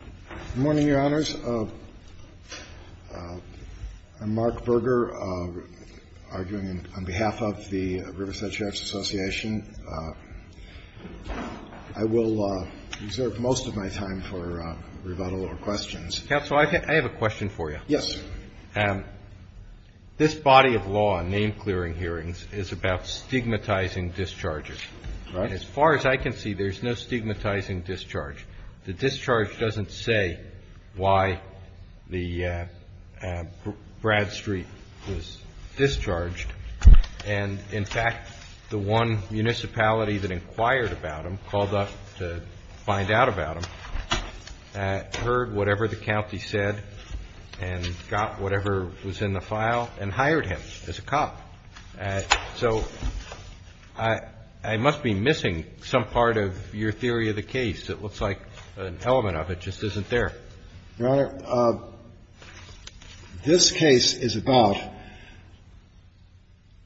Good morning, Your Honors. I'm Mark Berger, arguing on behalf of the Riverside Sheriff's Association. I will reserve most of my time for rebuttal or questions. Counsel, I have a question for you. Yes, sir. This body of law, name-clearing hearings, is about stigmatizing discharges. Right. And as far as I can see, there's no stigmatizing discharge. The discharge doesn't say why Bradstreet was discharged. And, in fact, the one municipality that inquired about him, called up to find out about him, heard whatever the county said and got whatever was in the file and hired him as a cop. So I must be missing some part of your theory of the case. It looks like an element of it just isn't there. Your Honor, this case is about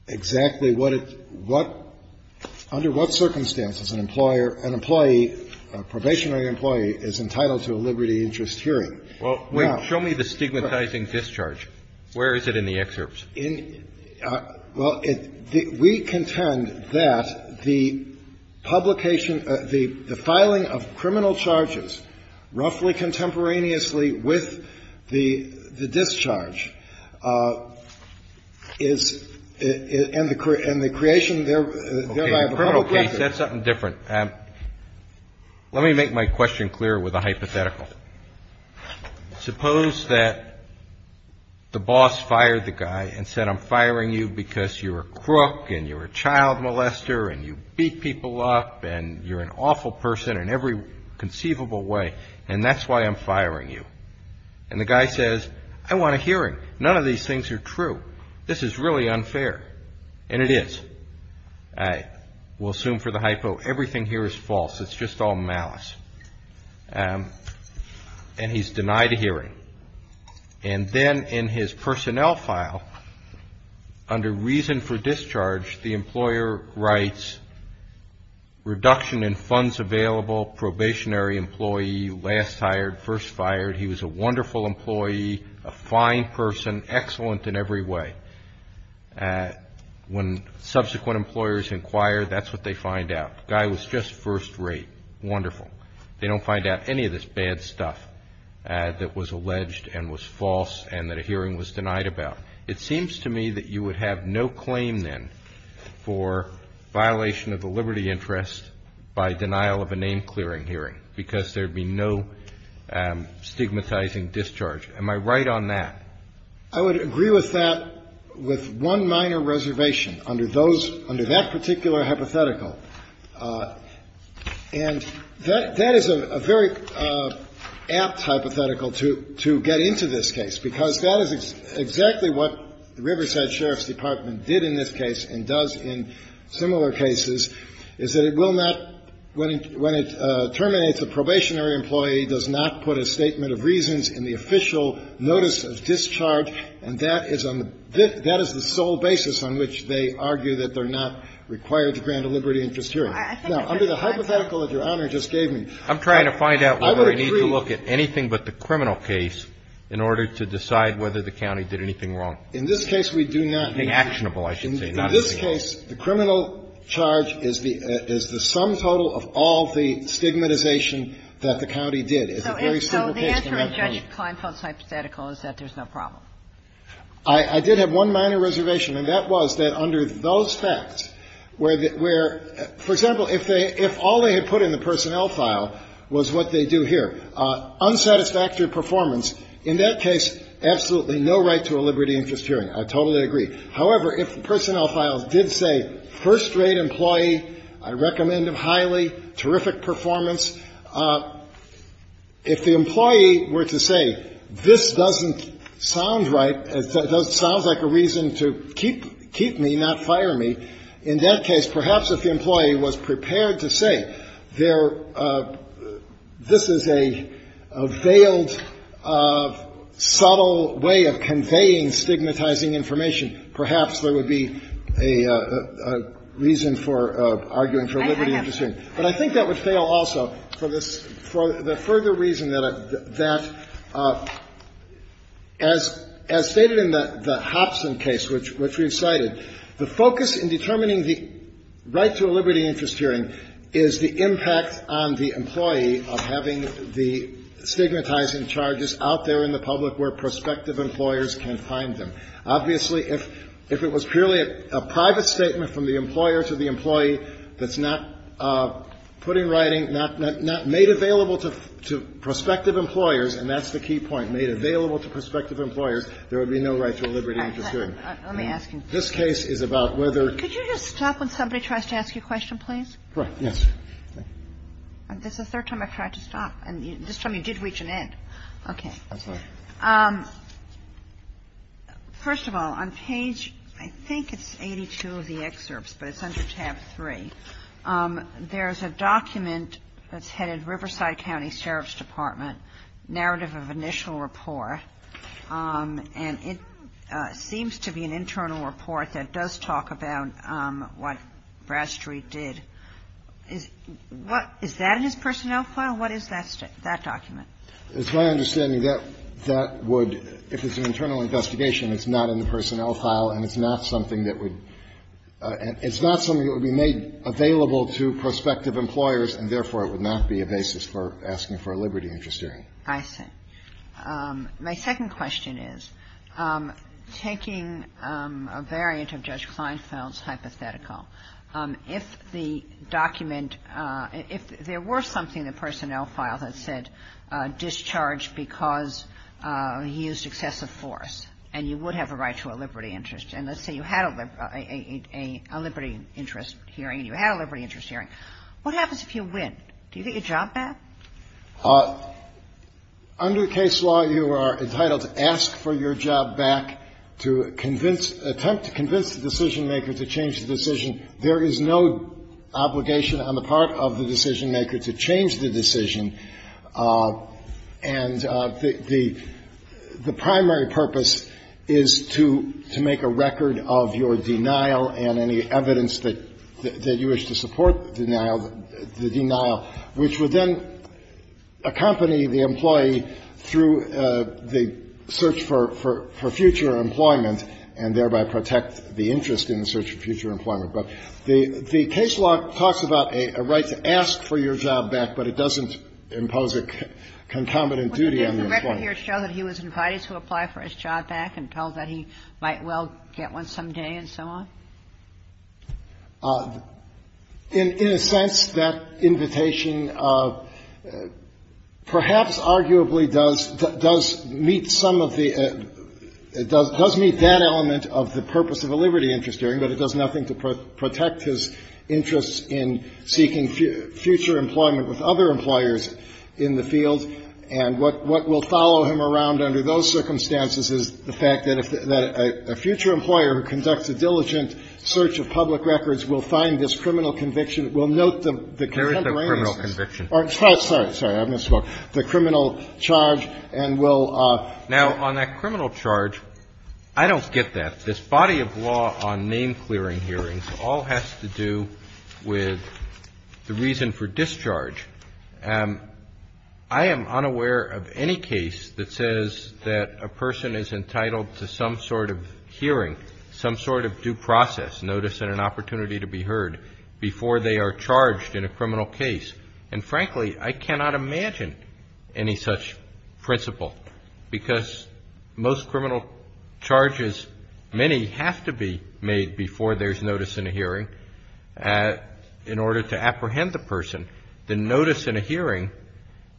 exactly what it's – what – under what circumstances an employer – an employee, a probationary employee, is entitled to a liberty interest hearing. Well, wait. Show me the stigmatizing discharge. Where is it in the excerpts? In – well, it – we contend that the publication – the filing of criminal charges roughly contemporaneously with the discharge is – and the creation thereby of a criminal record. Okay. In a criminal case, that's something different. Let me make my question clearer with a hypothetical. Suppose that the boss fired the guy and said, I'm firing you because you're a crook and you're a child molester and you beat people up and you're an awful person in every conceivable way, and that's why I'm firing you. And the guy says, I want a hearing. None of these things are true. This is really unfair. And it is. We'll assume for the hypo everything here is false. It's just all malice. And he's denied a hearing. And then in his personnel file, under reason for discharge, the employer writes, reduction in funds available, probationary employee, last hired, first fired. He was a wonderful employee, a fine person, excellent in every way. When subsequent employers inquire, that's what they find out. The guy was just first rate, wonderful. They don't find out any of this bad stuff that was alleged and was false and that a hearing was denied about. It seems to me that you would have no claim then for violation of the liberty interest by denial of a name-clearing hearing because there would be no stigmatizing discharge. Am I right on that? I would agree with that with one minor reservation under that particular hypothetical. And that is a very apt hypothetical to get into this case, because that is exactly what the Riverside Sheriff's Department did in this case and does in similar cases, is that it will not, when it terminates, the probationary employee does not put a statement of reasons in the official notice of discharge, and that is the sole basis on which they argue that they're not required to grant a liberty interest hearing. Now, under the hypothetical that Your Honor just gave me, I would agree. I'm trying to find out whether I need to look at anything but the criminal case in order to decide whether the county did anything wrong. In this case, we do not. Actionable, I should say. In this case, the criminal charge is the sum total of all the stigmatization that the county did. It's a very simple case. So the answer in Judge Kleinfeld's hypothetical is that there's no problem. I did have one minor reservation, and that was that under those facts where, for example, if all they had put in the personnel file was what they do here, unsatisfactory performance, in that case, absolutely no right to a liberty interest hearing. I totally agree. However, if the personnel file did say, first-rate employee, I recommend him highly, terrific performance, if the employee were to say, this doesn't sound right, sounds like a reason to keep me, not fire me, in that case, perhaps if the employee was prepared to say, this is a veiled, subtle way of conveying stigmatizing information, perhaps there would be a reason for arguing for a liberty interest hearing. But I think that would fail also for the further reason that, as stated in the Hopson case, which we've cited, the focus in determining the right to a liberty interest hearing is the impact on the employee of having the stigmatizing charges out there in the public where prospective employers can find them. Obviously, if it was purely a private statement from the employer to the employee that's not put in writing, not made available to prospective employers, and that's the key point, made available to prospective employers, there would be no right to a liberty interest hearing. Kagan. Let me ask you. This case is about whether ---- Could you just stop when somebody tries to ask you a question, please? Right. Yes. This is the third time I've tried to stop. And this time you did reach an end. I'm sorry. First of all, on page, I think it's 82 of the excerpts, but it's under tab 3, there's a document that's headed Riverside County Sheriff's Department, narrative of initial report, and it seems to be an internal report that does talk about what Bradstreet did. Is that in his personnel file? What is that document? It's my understanding that that would, if it's an internal investigation, it's not in the personnel file, and it's not something that would ---- it's not something that would be made available to prospective employers, and therefore it would not be a basis for asking for a liberty interest hearing. I see. My second question is, taking a variant of Judge Kleinfeld's hypothetical, if the document ---- if there were something in the personnel file that said discharge because he used excessive force and you would have a right to a liberty interest and let's say you had a liberty interest hearing and you had a liberty interest hearing, what happens if you win? Do you get your job back? Under the case law, you are entitled to ask for your job back to convince ---- attempt to convince the decisionmaker to change the decision. There is no obligation on the part of the decisionmaker to change the decision, and the primary purpose is to make a record of your denial and any evidence that you wish to support the denial, which would then accompany the employee through the search for future employment and thereby protect the interest in the search for future employment. But the case law talks about a right to ask for your job back, but it doesn't impose a concomitant duty on the employee. But didn't the record here show that he was invited to apply for his job back and told that he might well get one someday and so on? In a sense, that invitation perhaps arguably does meet some of the expectations of the purpose of a liberty interest hearing, but it does nothing to protect his interests in seeking future employment with other employers in the field. And what will follow him around under those circumstances is the fact that a future employer who conducts a diligent search of public records will find this criminal conviction, will note the contemporary---- Roberts. There is a criminal conviction. Sorry. I misspoke. The criminal charge and will---- Now, on that criminal charge, I don't get that. This body of law on name-clearing hearings all has to do with the reason for discharge. I am unaware of any case that says that a person is entitled to some sort of hearing, some sort of due process, notice and an opportunity to be heard, before they are charged in a criminal case. And frankly, I cannot imagine any such principle, because most criminal charges, many have to be made before there's notice in a hearing in order to apprehend the person. The notice in a hearing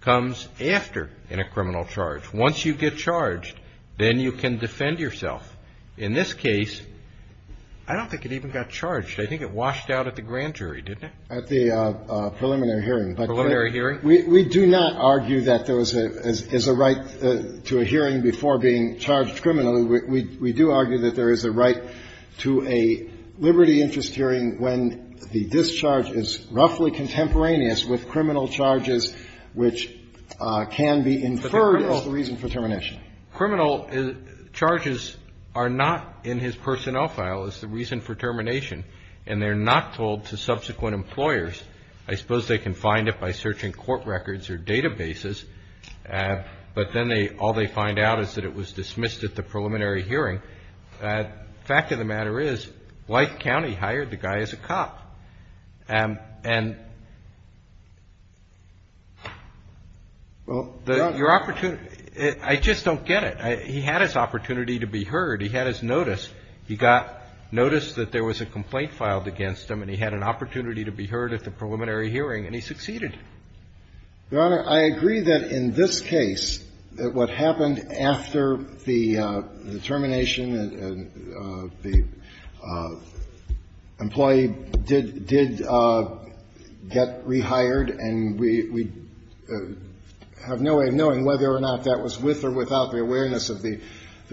comes after in a criminal charge. Once you get charged, then you can defend yourself. In this case, I don't think it even got charged. I think it washed out at the grand jury, didn't it? At the preliminary hearing. Preliminary hearing? We do not argue that there is a right to a hearing before being charged criminally. We do argue that there is a right to a liberty interest hearing when the discharge is roughly contemporaneous with criminal charges which can be inferred as the reason for termination. Criminal charges are not in his personnel file as the reason for termination, and they're not told to subsequent employers. I suppose they can find it by searching court records or databases, but then they, all they find out is that it was dismissed at the preliminary hearing. The fact of the matter is, White County hired the guy as a cop. And your opportunity, I just don't get it. He had his opportunity to be heard. He had his notice. He got notice that there was a complaint filed against him, and he had an opportunity to be heard at the preliminary hearing, and he succeeded. Your Honor, I agree that in this case, that what happened after the termination and the employee did get rehired, and we have no way of knowing whether or not that was with or without the awareness of the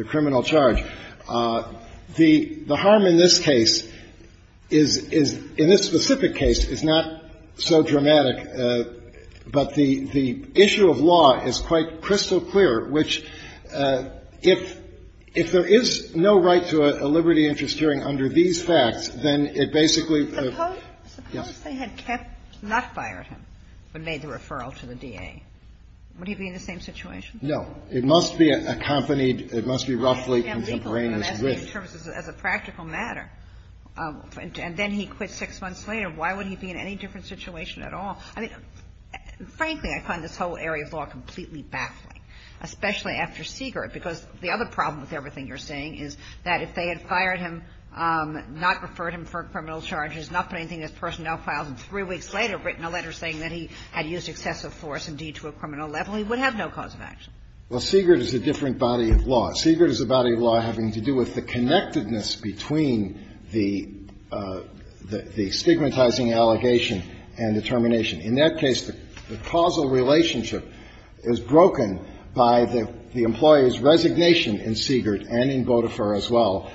criminal charge. The harm in this case is, in this specific case, is not so dramatic, but the issue of law is quite crystal clear, which, if there is no right to a liberty interest hearing under these facts, then it basically, yes. Suppose they had kept, not fired him, but made the referral to the DA. Would he be in the same situation? No. It must be accompanied. It must be roughly contemporaneous with it. But that's in terms of, as a practical matter. And then he quit six months later. Why would he be in any different situation at all? I mean, frankly, I find this whole area of law completely baffling, especially after Siegert, because the other problem with everything you're saying is that if they had fired him, not referred him for criminal charges, not put anything in his personnel files, and three weeks later written a letter saying that he had used excessive force and deed to a criminal level, he would have no cause of action. Well, Siegert is a different body of law. Siegert is a body of law having to do with the connectedness between the stigmatizing allegation and the termination. In that case, the causal relationship is broken by the employer's resignation in Siegert and in Vodafone as well.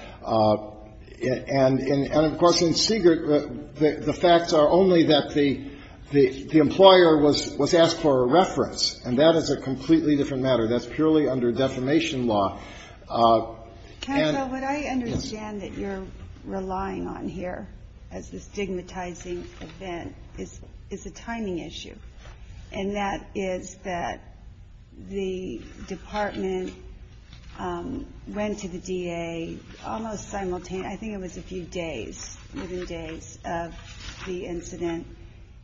And, of course, in Siegert, the facts are only that the employer was asked for a reference. And that is a completely different matter. That's purely under defamation law. And yes. Ginsburg. What I understand that you're relying on here as this stigmatizing event is a timing issue. And that is that the department went to the DA almost simultaneously. I think it was a few days, within days of the incident.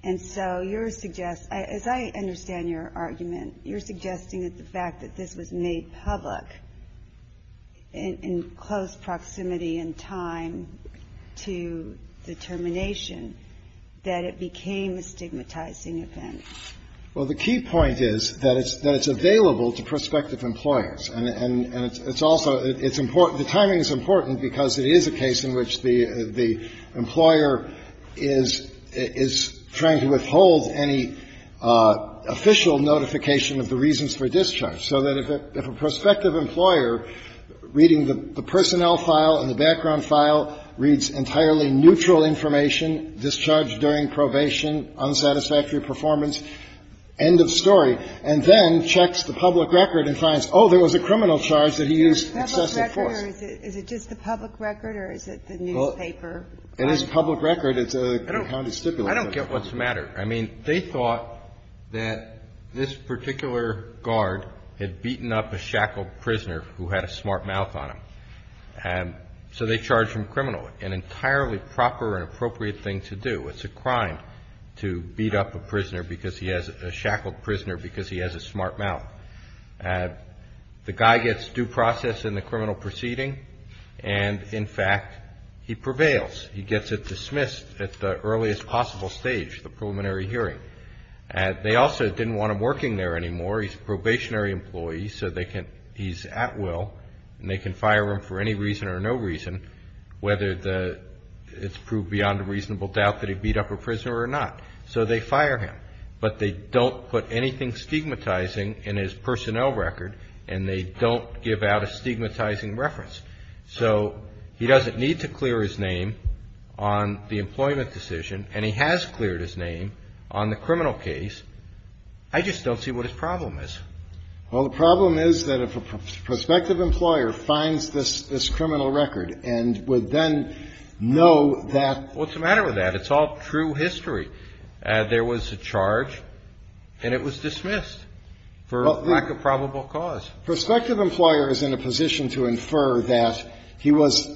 And so you're suggesting, as I understand your argument, you're suggesting that the fact that this was made public in close proximity and time to the termination, that it became a stigmatizing event. Well, the key point is that it's available to prospective employers. And it's also the timing is important because it is a case in which the employer is trying to withhold any official notification of the reasons for discharge. So that if a prospective employer, reading the personnel file and the background file, reads entirely neutral information, discharge during probation, unsatisfactory performance, end of story, and then checks the public record and finds, oh, there was a criminal charge that he used excessive force. Is it just the public record or is it the newspaper? It is public record. It's a county stipulate. I don't get what's the matter. I mean, they thought that this particular guard had beaten up a shackled prisoner who had a smart mouth on him. And so they charge him criminally, an entirely proper and appropriate thing to do. It's a crime to beat up a prisoner because he has a shackled prisoner because he has a smart mouth. The guy gets due process in the criminal proceeding. And in fact, he prevails. He gets it dismissed at the earliest possible stage, the preliminary hearing. They also didn't want him working there anymore. He's a probationary employee. So he's at will and they can fire him for any reason or no reason, whether it's proved beyond a reasonable doubt that he beat up a prisoner or not. So they fire him. But they don't put anything stigmatizing in his personnel record. And they don't give out a stigmatizing reference. So he doesn't need to clear his name on the employment decision. And he has cleared his name on the criminal case. I just don't see what his problem is. Well, the problem is that if a prospective employer finds this criminal record and would then know that. What's the matter with that? It's all true history. There was a charge and it was dismissed for lack of probable cause. Prospective employer is in a position to infer that he was.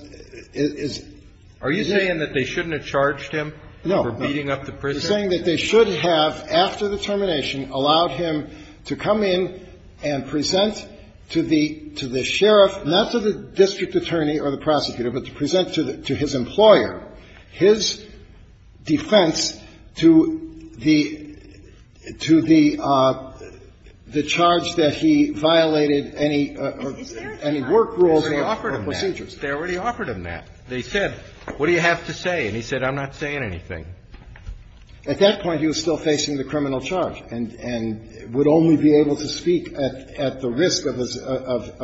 Are you saying that they shouldn't have charged him for beating up the prisoner? Are you saying that they shouldn't have, after the termination, allowed him to come in and present to the sheriff, not to the district attorney or the prosecutor, but to present to his employer his defense to the charge that he violated any work rules or procedures? They already offered him that. They said, what do you have to say? And he said, I'm not saying anything. At that point, he was still facing the criminal charge and would only be able to speak at the risk of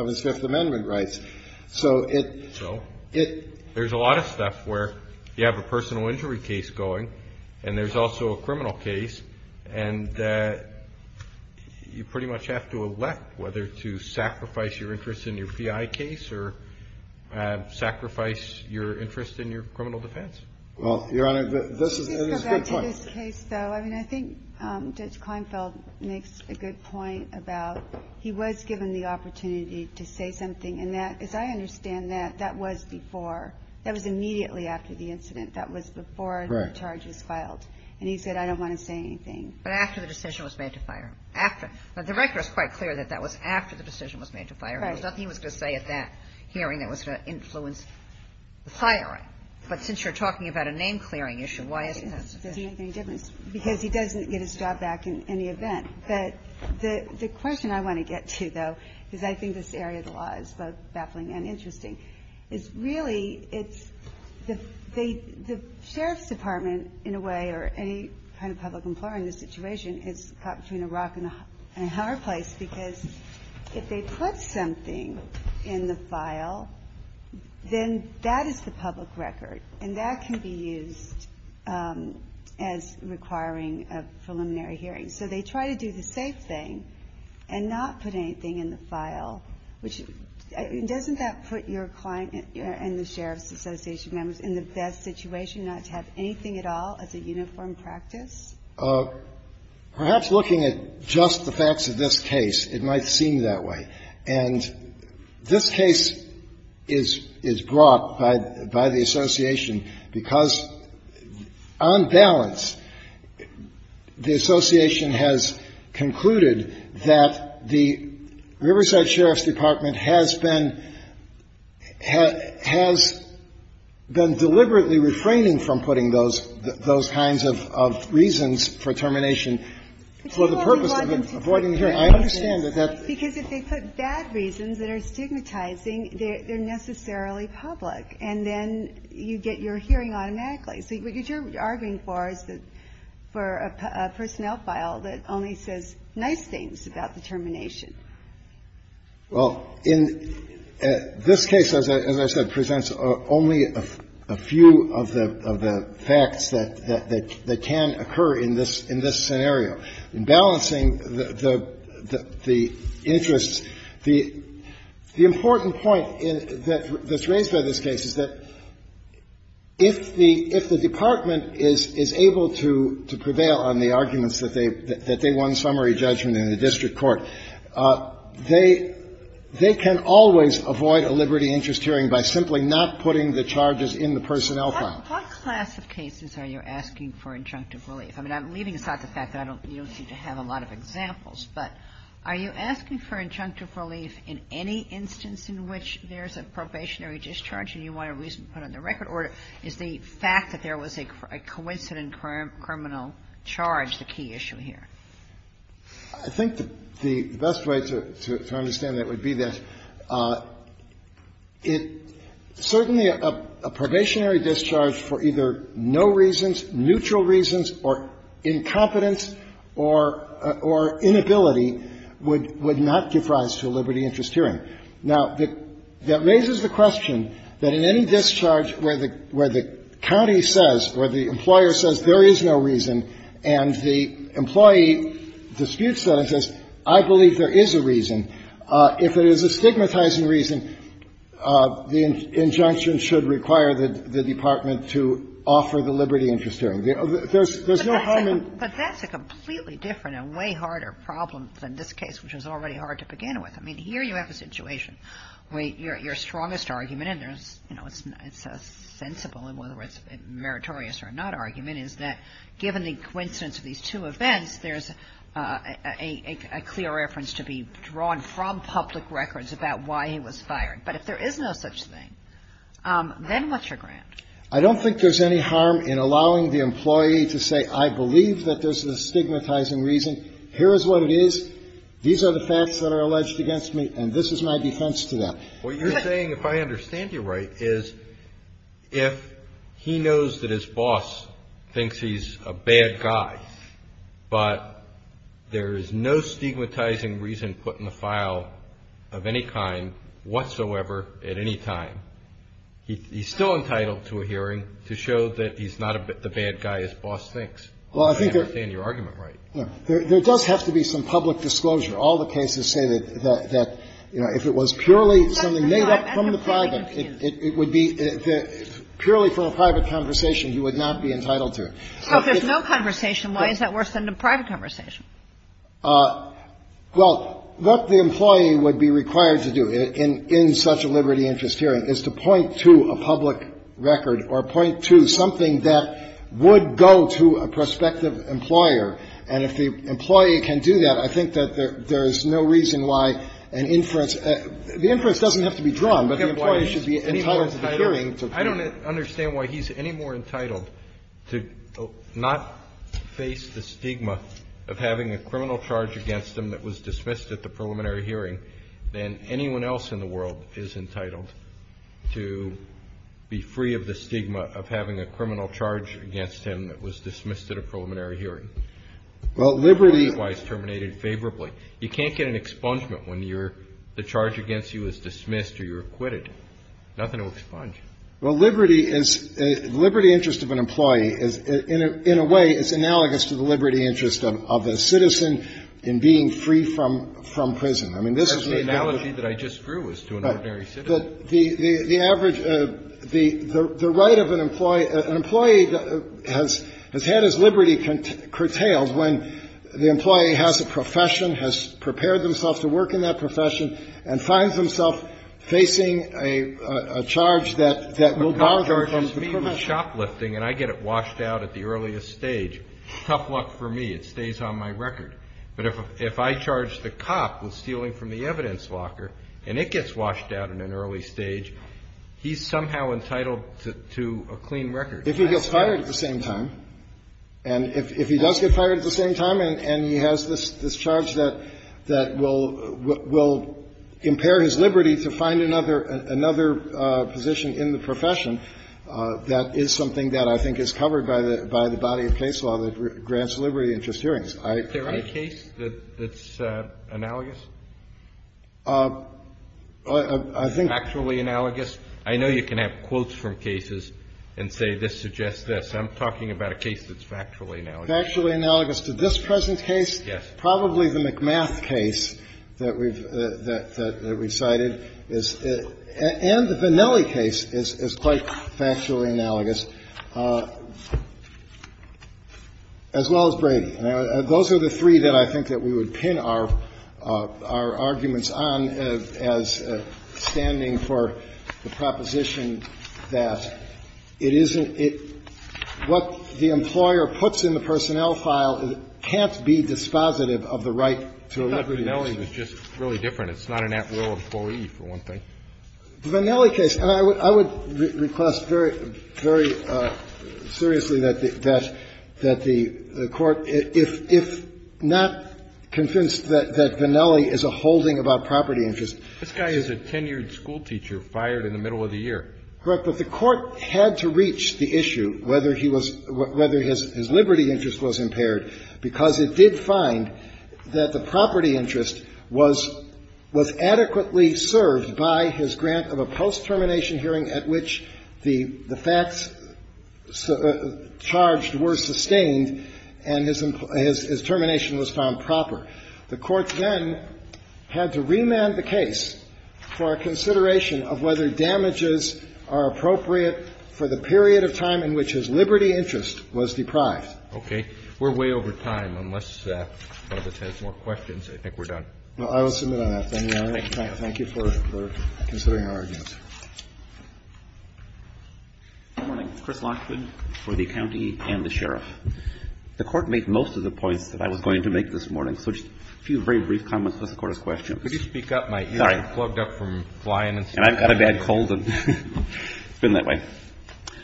his Fifth Amendment rights. So it. So? It. There's a lot of stuff where you have a personal injury case going and there's also a criminal case and you pretty much have to elect whether to sacrifice your interest in your PI case or sacrifice your interest in your criminal defense. Well, Your Honor, this is a good point. To go back to this case, though, I mean, I think Judge Kleinfeld makes a good point about he was given the opportunity to say something. And that, as I understand that, that was before. That was immediately after the incident. That was before the charge was filed. And he said, I don't want to say anything. But after the decision was made to fire him. After. The record is quite clear that that was after the decision was made to fire him. There was nothing he was going to say at that hearing that was going to influence the firing. But since you're talking about a name-clearing issue, why isn't that sufficient? It doesn't make any difference because he doesn't get his job back in any event. But the question I want to get to, though, is I think this area of the law is both baffling and interesting, is really it's the sheriff's department, in a way, or any kind of public employer in this situation, is caught between a rock and a hard place. Because if they put something in the file, then that is the public record. And that can be used as requiring a preliminary hearing. So they try to do the same thing and not put anything in the file, which doesn't that put your client and the sheriff's association members in the best situation not to have anything at all as a uniform practice? Perhaps looking at just the facts of this case, it might seem that way. And this case is brought by the association because on balance the association has concluded that the Riverside Sheriff's Department has been deliberately refraining from putting those kinds of reasons for termination for the purpose of avoiding hearing. I understand that that's the case. Because if they put bad reasons that are stigmatizing, they're necessarily public, and then you get your hearing automatically. So what you're arguing for is that for a personnel file that only says nice things about the termination. Well, in this case, as I said, presents only a few of the facts that can occur in this scenario. In balancing the interests, the important point that's raised by this case is that if the department is able to prevail on the arguments that they won summary judgment in the district court, they can always avoid a liberty interest hearing by simply not putting the charges in the personnel file. What class of cases are you asking for injunctive relief? I mean, I'm leaving aside the fact that you don't seem to have a lot of examples, but are you asking for injunctive relief in any instance in which there's a probationary discharge and you want a reason to put on the record, or is the fact that there was a coincident criminal charge the key issue here? I think the best way to understand that would be that it certainly, a probationary discharge for either no reasons, neutral reasons, or incompetence or inability would not give rise to a liberty interest hearing. Now, that raises the question that in any discharge where the county says, where the employer says there is no reason and the employee disputes that and says, I believe there is a reason, if it is a stigmatizing reason, the injunction should require the department to offer the liberty interest hearing. There's no common ---- But that's a completely different and way harder problem than this case, which was already hard to begin with. I mean, here you have a situation where your strongest argument, and there's, you know, it's a sensible, and whether it's meritorious or not argument, is that given the coincidence of these two events, there's a clear reference to be drawn from public records about why he was fired. But if there is no such thing, then what's your ground? I don't think there's any harm in allowing the employee to say, I believe that there's a stigmatizing reason, here is what it is, these are the facts that are alleged against me, and this is my defense to that. What you're saying, if I understand you right, is if he knows that his boss thinks he's a bad guy, but there is no stigmatizing reason put in the file of any kind whatsoever at any time, he's still entitled to a hearing to show that he's not the bad guy his boss thinks. I understand your argument, right? Well, I think there does have to be some public disclosure. All the cases say that, you know, if it was purely something made up from the private, it would be, purely from a private conversation, he would not be entitled to it. So if there's no conversation, why is that worse than a private conversation? Well, what the employee would be required to do in such a liberty interest hearing is to point to a public record or point to something that would go to a prospective employer, and if the employee can do that, I think that there's no reason why an inference the inference doesn't have to be drawn, but the employee should be entitled to the hearing. I don't understand why he's any more entitled to not face the stigma of having a criminal charge against him that was dismissed at the preliminary hearing than anyone else in the world is entitled to be free of the stigma of having a criminal charge against him that was dismissed at a preliminary hearing. Well, liberty Why is terminated favorably? You can't get an expungement when you're the charge against you is dismissed or you're acquitted. Nothing to expunge. Well, liberty is liberty interest of an employee is in a way it's analogous to the liberty interest of a citizen in being free from prison. I mean, this is the analogy that I just drew was to an ordinary citizen. But the average, the right of an employee, an employee has had his liberty curtailed when the employee has a profession, has prepared themselves to work in that profession and finds themself facing a charge that will bar them from the profession. A cop charges me with shoplifting and I get it washed out at the earliest stage. Tough luck for me. It stays on my record. But if I charge the cop with stealing from the evidence locker, and it gets washed out in an early stage, he's somehow entitled to a clean record. If he gets fired at the same time, and if he does get fired at the same time and he has this charge that will impair his liberty to find another position in the profession, that is something that I think is covered by the body of case law that grants liberty interest hearings. Is there any case that's analogous? I think the case that's analogous to this present case, probably the McMath case that we've cited, and the Vennelli case is quite factually analogous, as well as Brady. Those are the three that I think that we would pin our argument on. Our arguments on as standing for the proposition that it isn't what the employer puts in the personnel file can't be dispositive of the right to a liberty interest. Vennelli was just really different. It's not an at-will employee, for one thing. The Vennelli case, and I would request very, very seriously that the Court, if not convinced that Vennelli is a holding about property interest. This guy is a tenured schoolteacher fired in the middle of the year. Correct. But the Court had to reach the issue whether he was – whether his liberty interest was impaired, because it did find that the property interest was adequately served by his grant of a post-termination hearing at which the facts charged were sustained and his termination was found proper. The Court then had to remand the case for a consideration of whether damages are appropriate for the period of time in which his liberty interest was deprived. Okay. We're way over time. Unless one of us has more questions, I think we're done. Well, I will submit on that. Thank you, Your Honor. Thank you for considering our arguments. Good morning. It's Chris Lockwood for the County and the Sheriff. The Court made most of the points that I was going to make this morning, so just a few very brief comments before the Court has questions. Could you speak up? My ear is plugged up from flying and stuff. And I've got a bad cold, and it's been that way.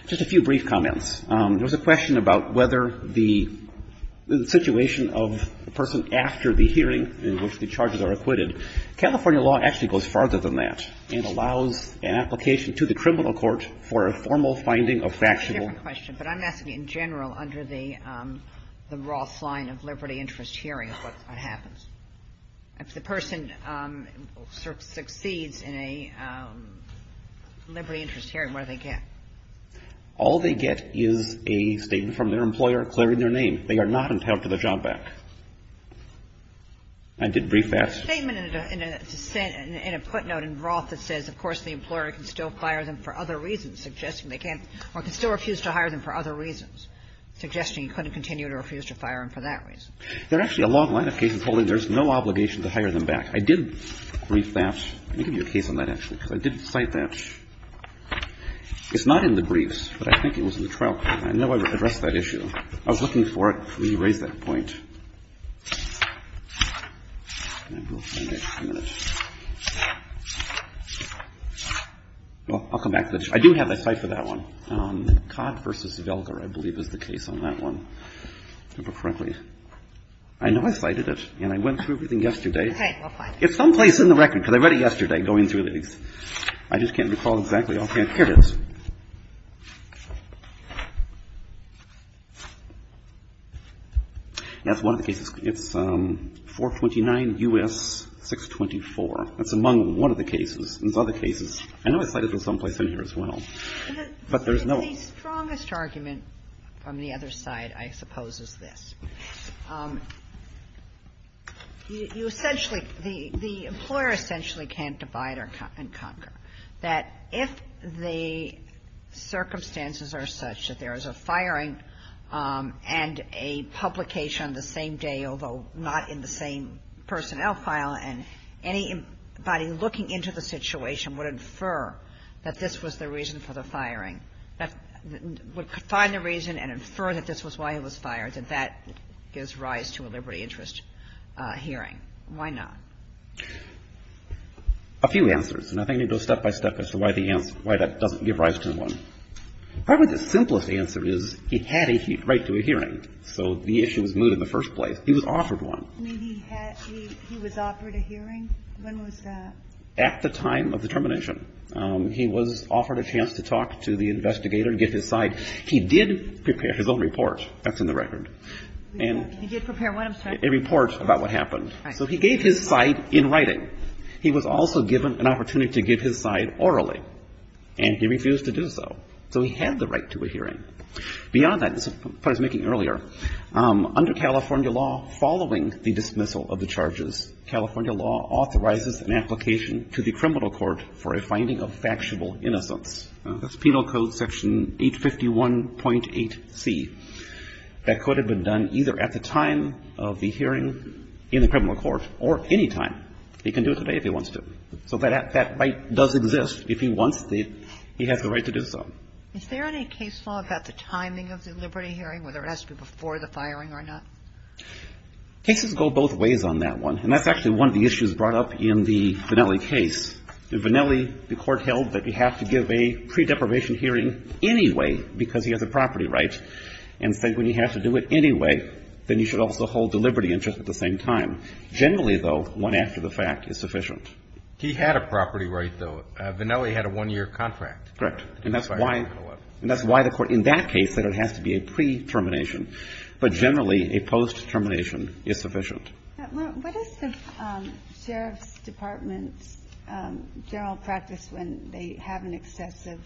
Just a few brief comments. There was a question about whether the situation of the person after the hearing in which the charges are acquitted, California law actually goes farther than that and allows an application to the criminal court for a formal finding of factional It's a different question, but I'm asking in general under the Roth line of liberty interest hearing, what happens? If the person succeeds in a liberty interest hearing, what do they get? All they get is a statement from their employer clearing their name. They are not entitled to the job back. I did brief that. There's a statement in a footnote in Roth that says, of course, the employer can still fire them for other reasons, suggesting they can't or can still refuse to hire them for other reasons, suggesting you couldn't continue to refuse to fire them for that reason. There are actually a long line of cases holding there's no obligation to hire them back. I did brief that. Let me give you a case on that, actually, because I did cite that. It's not in the briefs, but I think it was in the trial. I know I addressed that issue. I was looking for it before you raised that point. Well, I'll come back to it. I do have a cite for that one. Codd v. Velker, I believe, is the case on that one. I know I cited it, and I went through everything yesterday. It's someplace in the record, because I read it yesterday, going through it. I just can't recall exactly. Here it is. That's the case. It's 429 U.S. 624. It's among one of the cases. There's other cases. I know I cited it someplace in here as well. But there's no other. The strongest argument from the other side, I suppose, is this. You essentially, the employer essentially can't divide and conquer. That if the circumstances are such that there is a firing and a publication on the same day, although not in the same personnel file, and anybody looking into the situation would infer that this was the reason for the firing, would find the reason and infer that this was why he was fired, that that gives rise to a liberty interest hearing. Why not? A few answers. And I think I need to go step by step as to why that doesn't give rise to one. Probably the simplest answer is it had a right to a hearing. So the issue was moved in the first place. He was offered one. He was offered a hearing? When was that? At the time of the termination. He was offered a chance to talk to the investigator and get his side. He did prepare his own report. That's in the record. He did prepare what, I'm sorry? A report about what happened. So he gave his side in writing. He was also given an opportunity to give his side orally. And he refused to do so. So he had the right to a hearing. Beyond that, as I was making earlier, under California law, following the dismissal of the charges, California law authorizes an application to the criminal court for a finding of factual innocence. That's Penal Code Section 851.8c. That could have been done either at the time of the hearing in the criminal court or any time. He can do it today if he wants to. So that right does exist. If he wants to, he has the right to do so. Is there any case law about the timing of the liberty hearing, whether it has to be before the firing or not? Cases go both ways on that one. And that's actually one of the issues brought up in the Vannelli case. In Vannelli, the court held that you have to give a pre-deprivation hearing anyway because he has a property right, and said when you have to do it anyway, then you should also hold the liberty interest at the same time. Generally, though, one after the fact is sufficient. He had a property right, though. Vannelli had a one-year contract. Correct. And that's why the court in that case said it has to be a pre-termination. But generally, a post-termination is sufficient. What is the sheriff's department's general practice when they have an excessive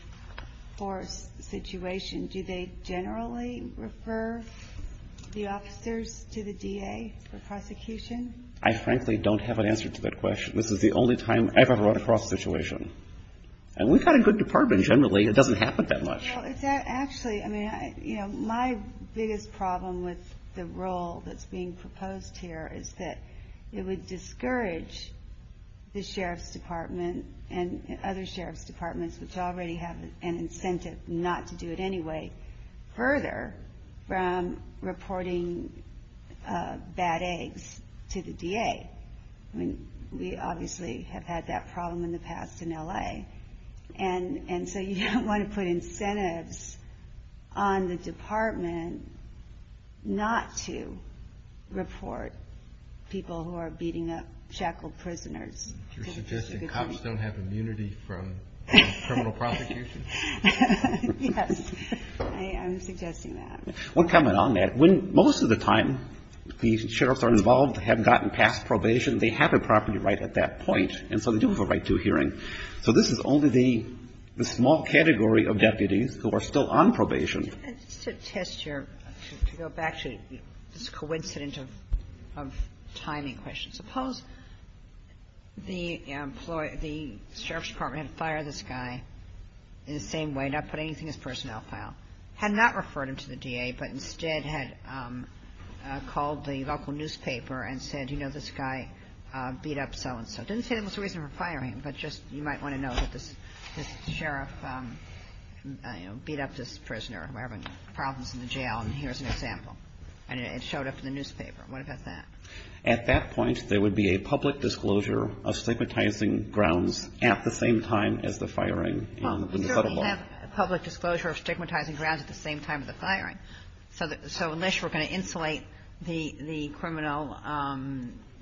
force situation? Do they generally refer the officers to the DA for prosecution? I frankly don't have an answer to that question. This is the only time I've ever run across a situation. And we've got a good department generally. It doesn't happen that much. Well, it's actually, I mean, you know, my biggest problem with the role that's being proposed here is that it would discourage the sheriff's department and other sheriff's departments, which already have an incentive not to do it anyway, further from reporting bad eggs to the DA. I mean, we obviously have had that problem in the past in L.A. And so you don't want to put incentives on the department not to report people who are beating up shackled prisoners. You're suggesting cops don't have immunity from criminal prosecution? Yes. I'm suggesting that. One comment on that. Most of the time, the sheriffs are involved, have gotten past probation. They have a property right at that point. And so they do have a right to a hearing. So this is only the small category of deputies who are still on probation. Just to test your, to go back to this coincidence of timing questions. Suppose the sheriff's department had fired this guy in the same way, not put anything in his personnel file. Had not referred him to the DA, but instead had called the local newspaper and said, you know, this guy beat up so-and-so. Didn't say there was a reason for firing him, but just you might want to know that this sheriff beat up this prisoner. We're having problems in the jail, and here's an example. And it showed up in the newspaper. What about that? At that point, there would be a public disclosure of stigmatizing grounds at the same time as the firing in the federal law. We don't have a public disclosure of stigmatizing grounds at the same time as the firing. So unless we're going to insulate the criminal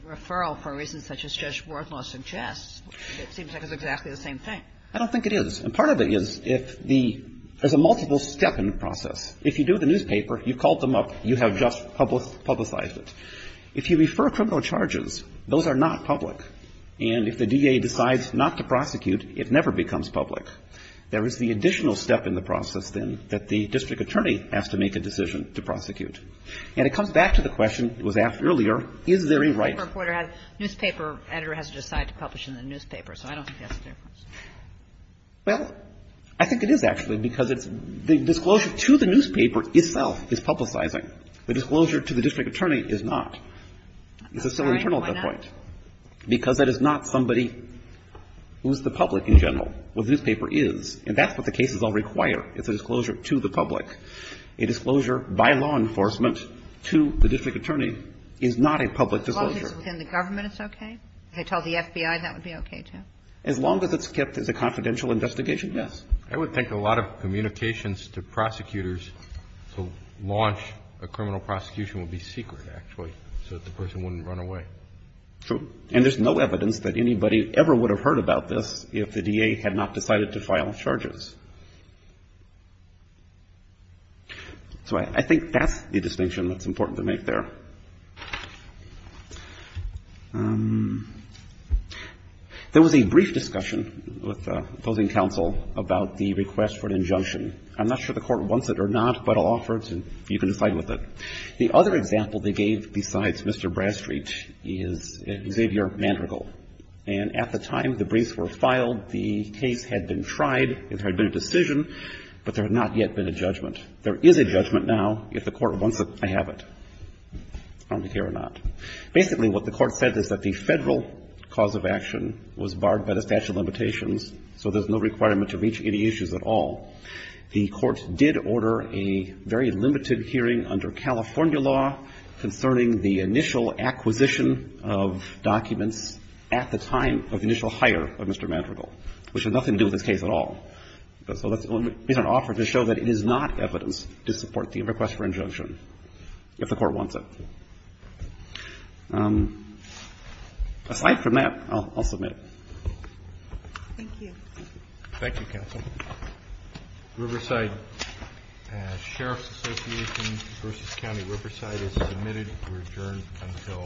referral for reasons such as Judge Worthlaw suggests, it seems like it's exactly the same thing. I don't think it is. And part of it is if the, there's a multiple step in the process. If you do the newspaper, you've called them up, you have just publicized it. If you refer criminal charges, those are not public. And if the DA decides not to prosecute, it never becomes public. There is the additional step in the process, then, that the district attorney has to make a decision to prosecute. And it comes back to the question that was asked earlier, is there a right? Kagan. Newspaper editor has to decide to publish in the newspaper, so I don't think that's the difference. Well, I think it is, actually, because it's the disclosure to the newspaper itself is publicizing. The disclosure to the district attorney is not. It's a civil internal at that point. Because that is not somebody who's the public in general. What the newspaper is, and that's what the cases all require, is a disclosure to the public. A disclosure by law enforcement to the district attorney is not a public disclosure. As long as it's within the government, it's okay? If they told the FBI, that would be okay, too? As long as it's kept as a confidential investigation, yes. I would think a lot of communications to prosecutors to launch a criminal prosecution would be secret, actually, so that the person wouldn't run away. True. And there's no evidence that anybody ever would have heard about this if the D.A. had not decided to file charges. So I think that's the distinction that's important to make there. There was a brief discussion with opposing counsel about the request for an injunction. I'm not sure the Court wants it or not, but I'll offer it and you can decide with it. The other example they gave besides Mr. Brastreet is Xavier Mandrigal. And at the time the briefs were filed, the case had been tried, it had been a decision, but there had not yet been a judgment. There is a judgment now, if the Court wants it, I have it. I don't care or not. Basically, what the Court said is that the Federal cause of action was barred by the statute of limitations, so there's no requirement to reach any issues at all. The Court did order a very limited hearing under California law concerning the initial acquisition of documents at the time of the initial hire of Mr. Mandrigal, which had nothing to do with this case at all. So that's an offer to show that it is not evidence to support the request for injunction if the Court wants it. Aside from that, I'll submit. Thank you. Thank you, counsel. Riverside Sheriff's Association v. County Riverside is submitted to adjourn until 9.30 tomorrow morning.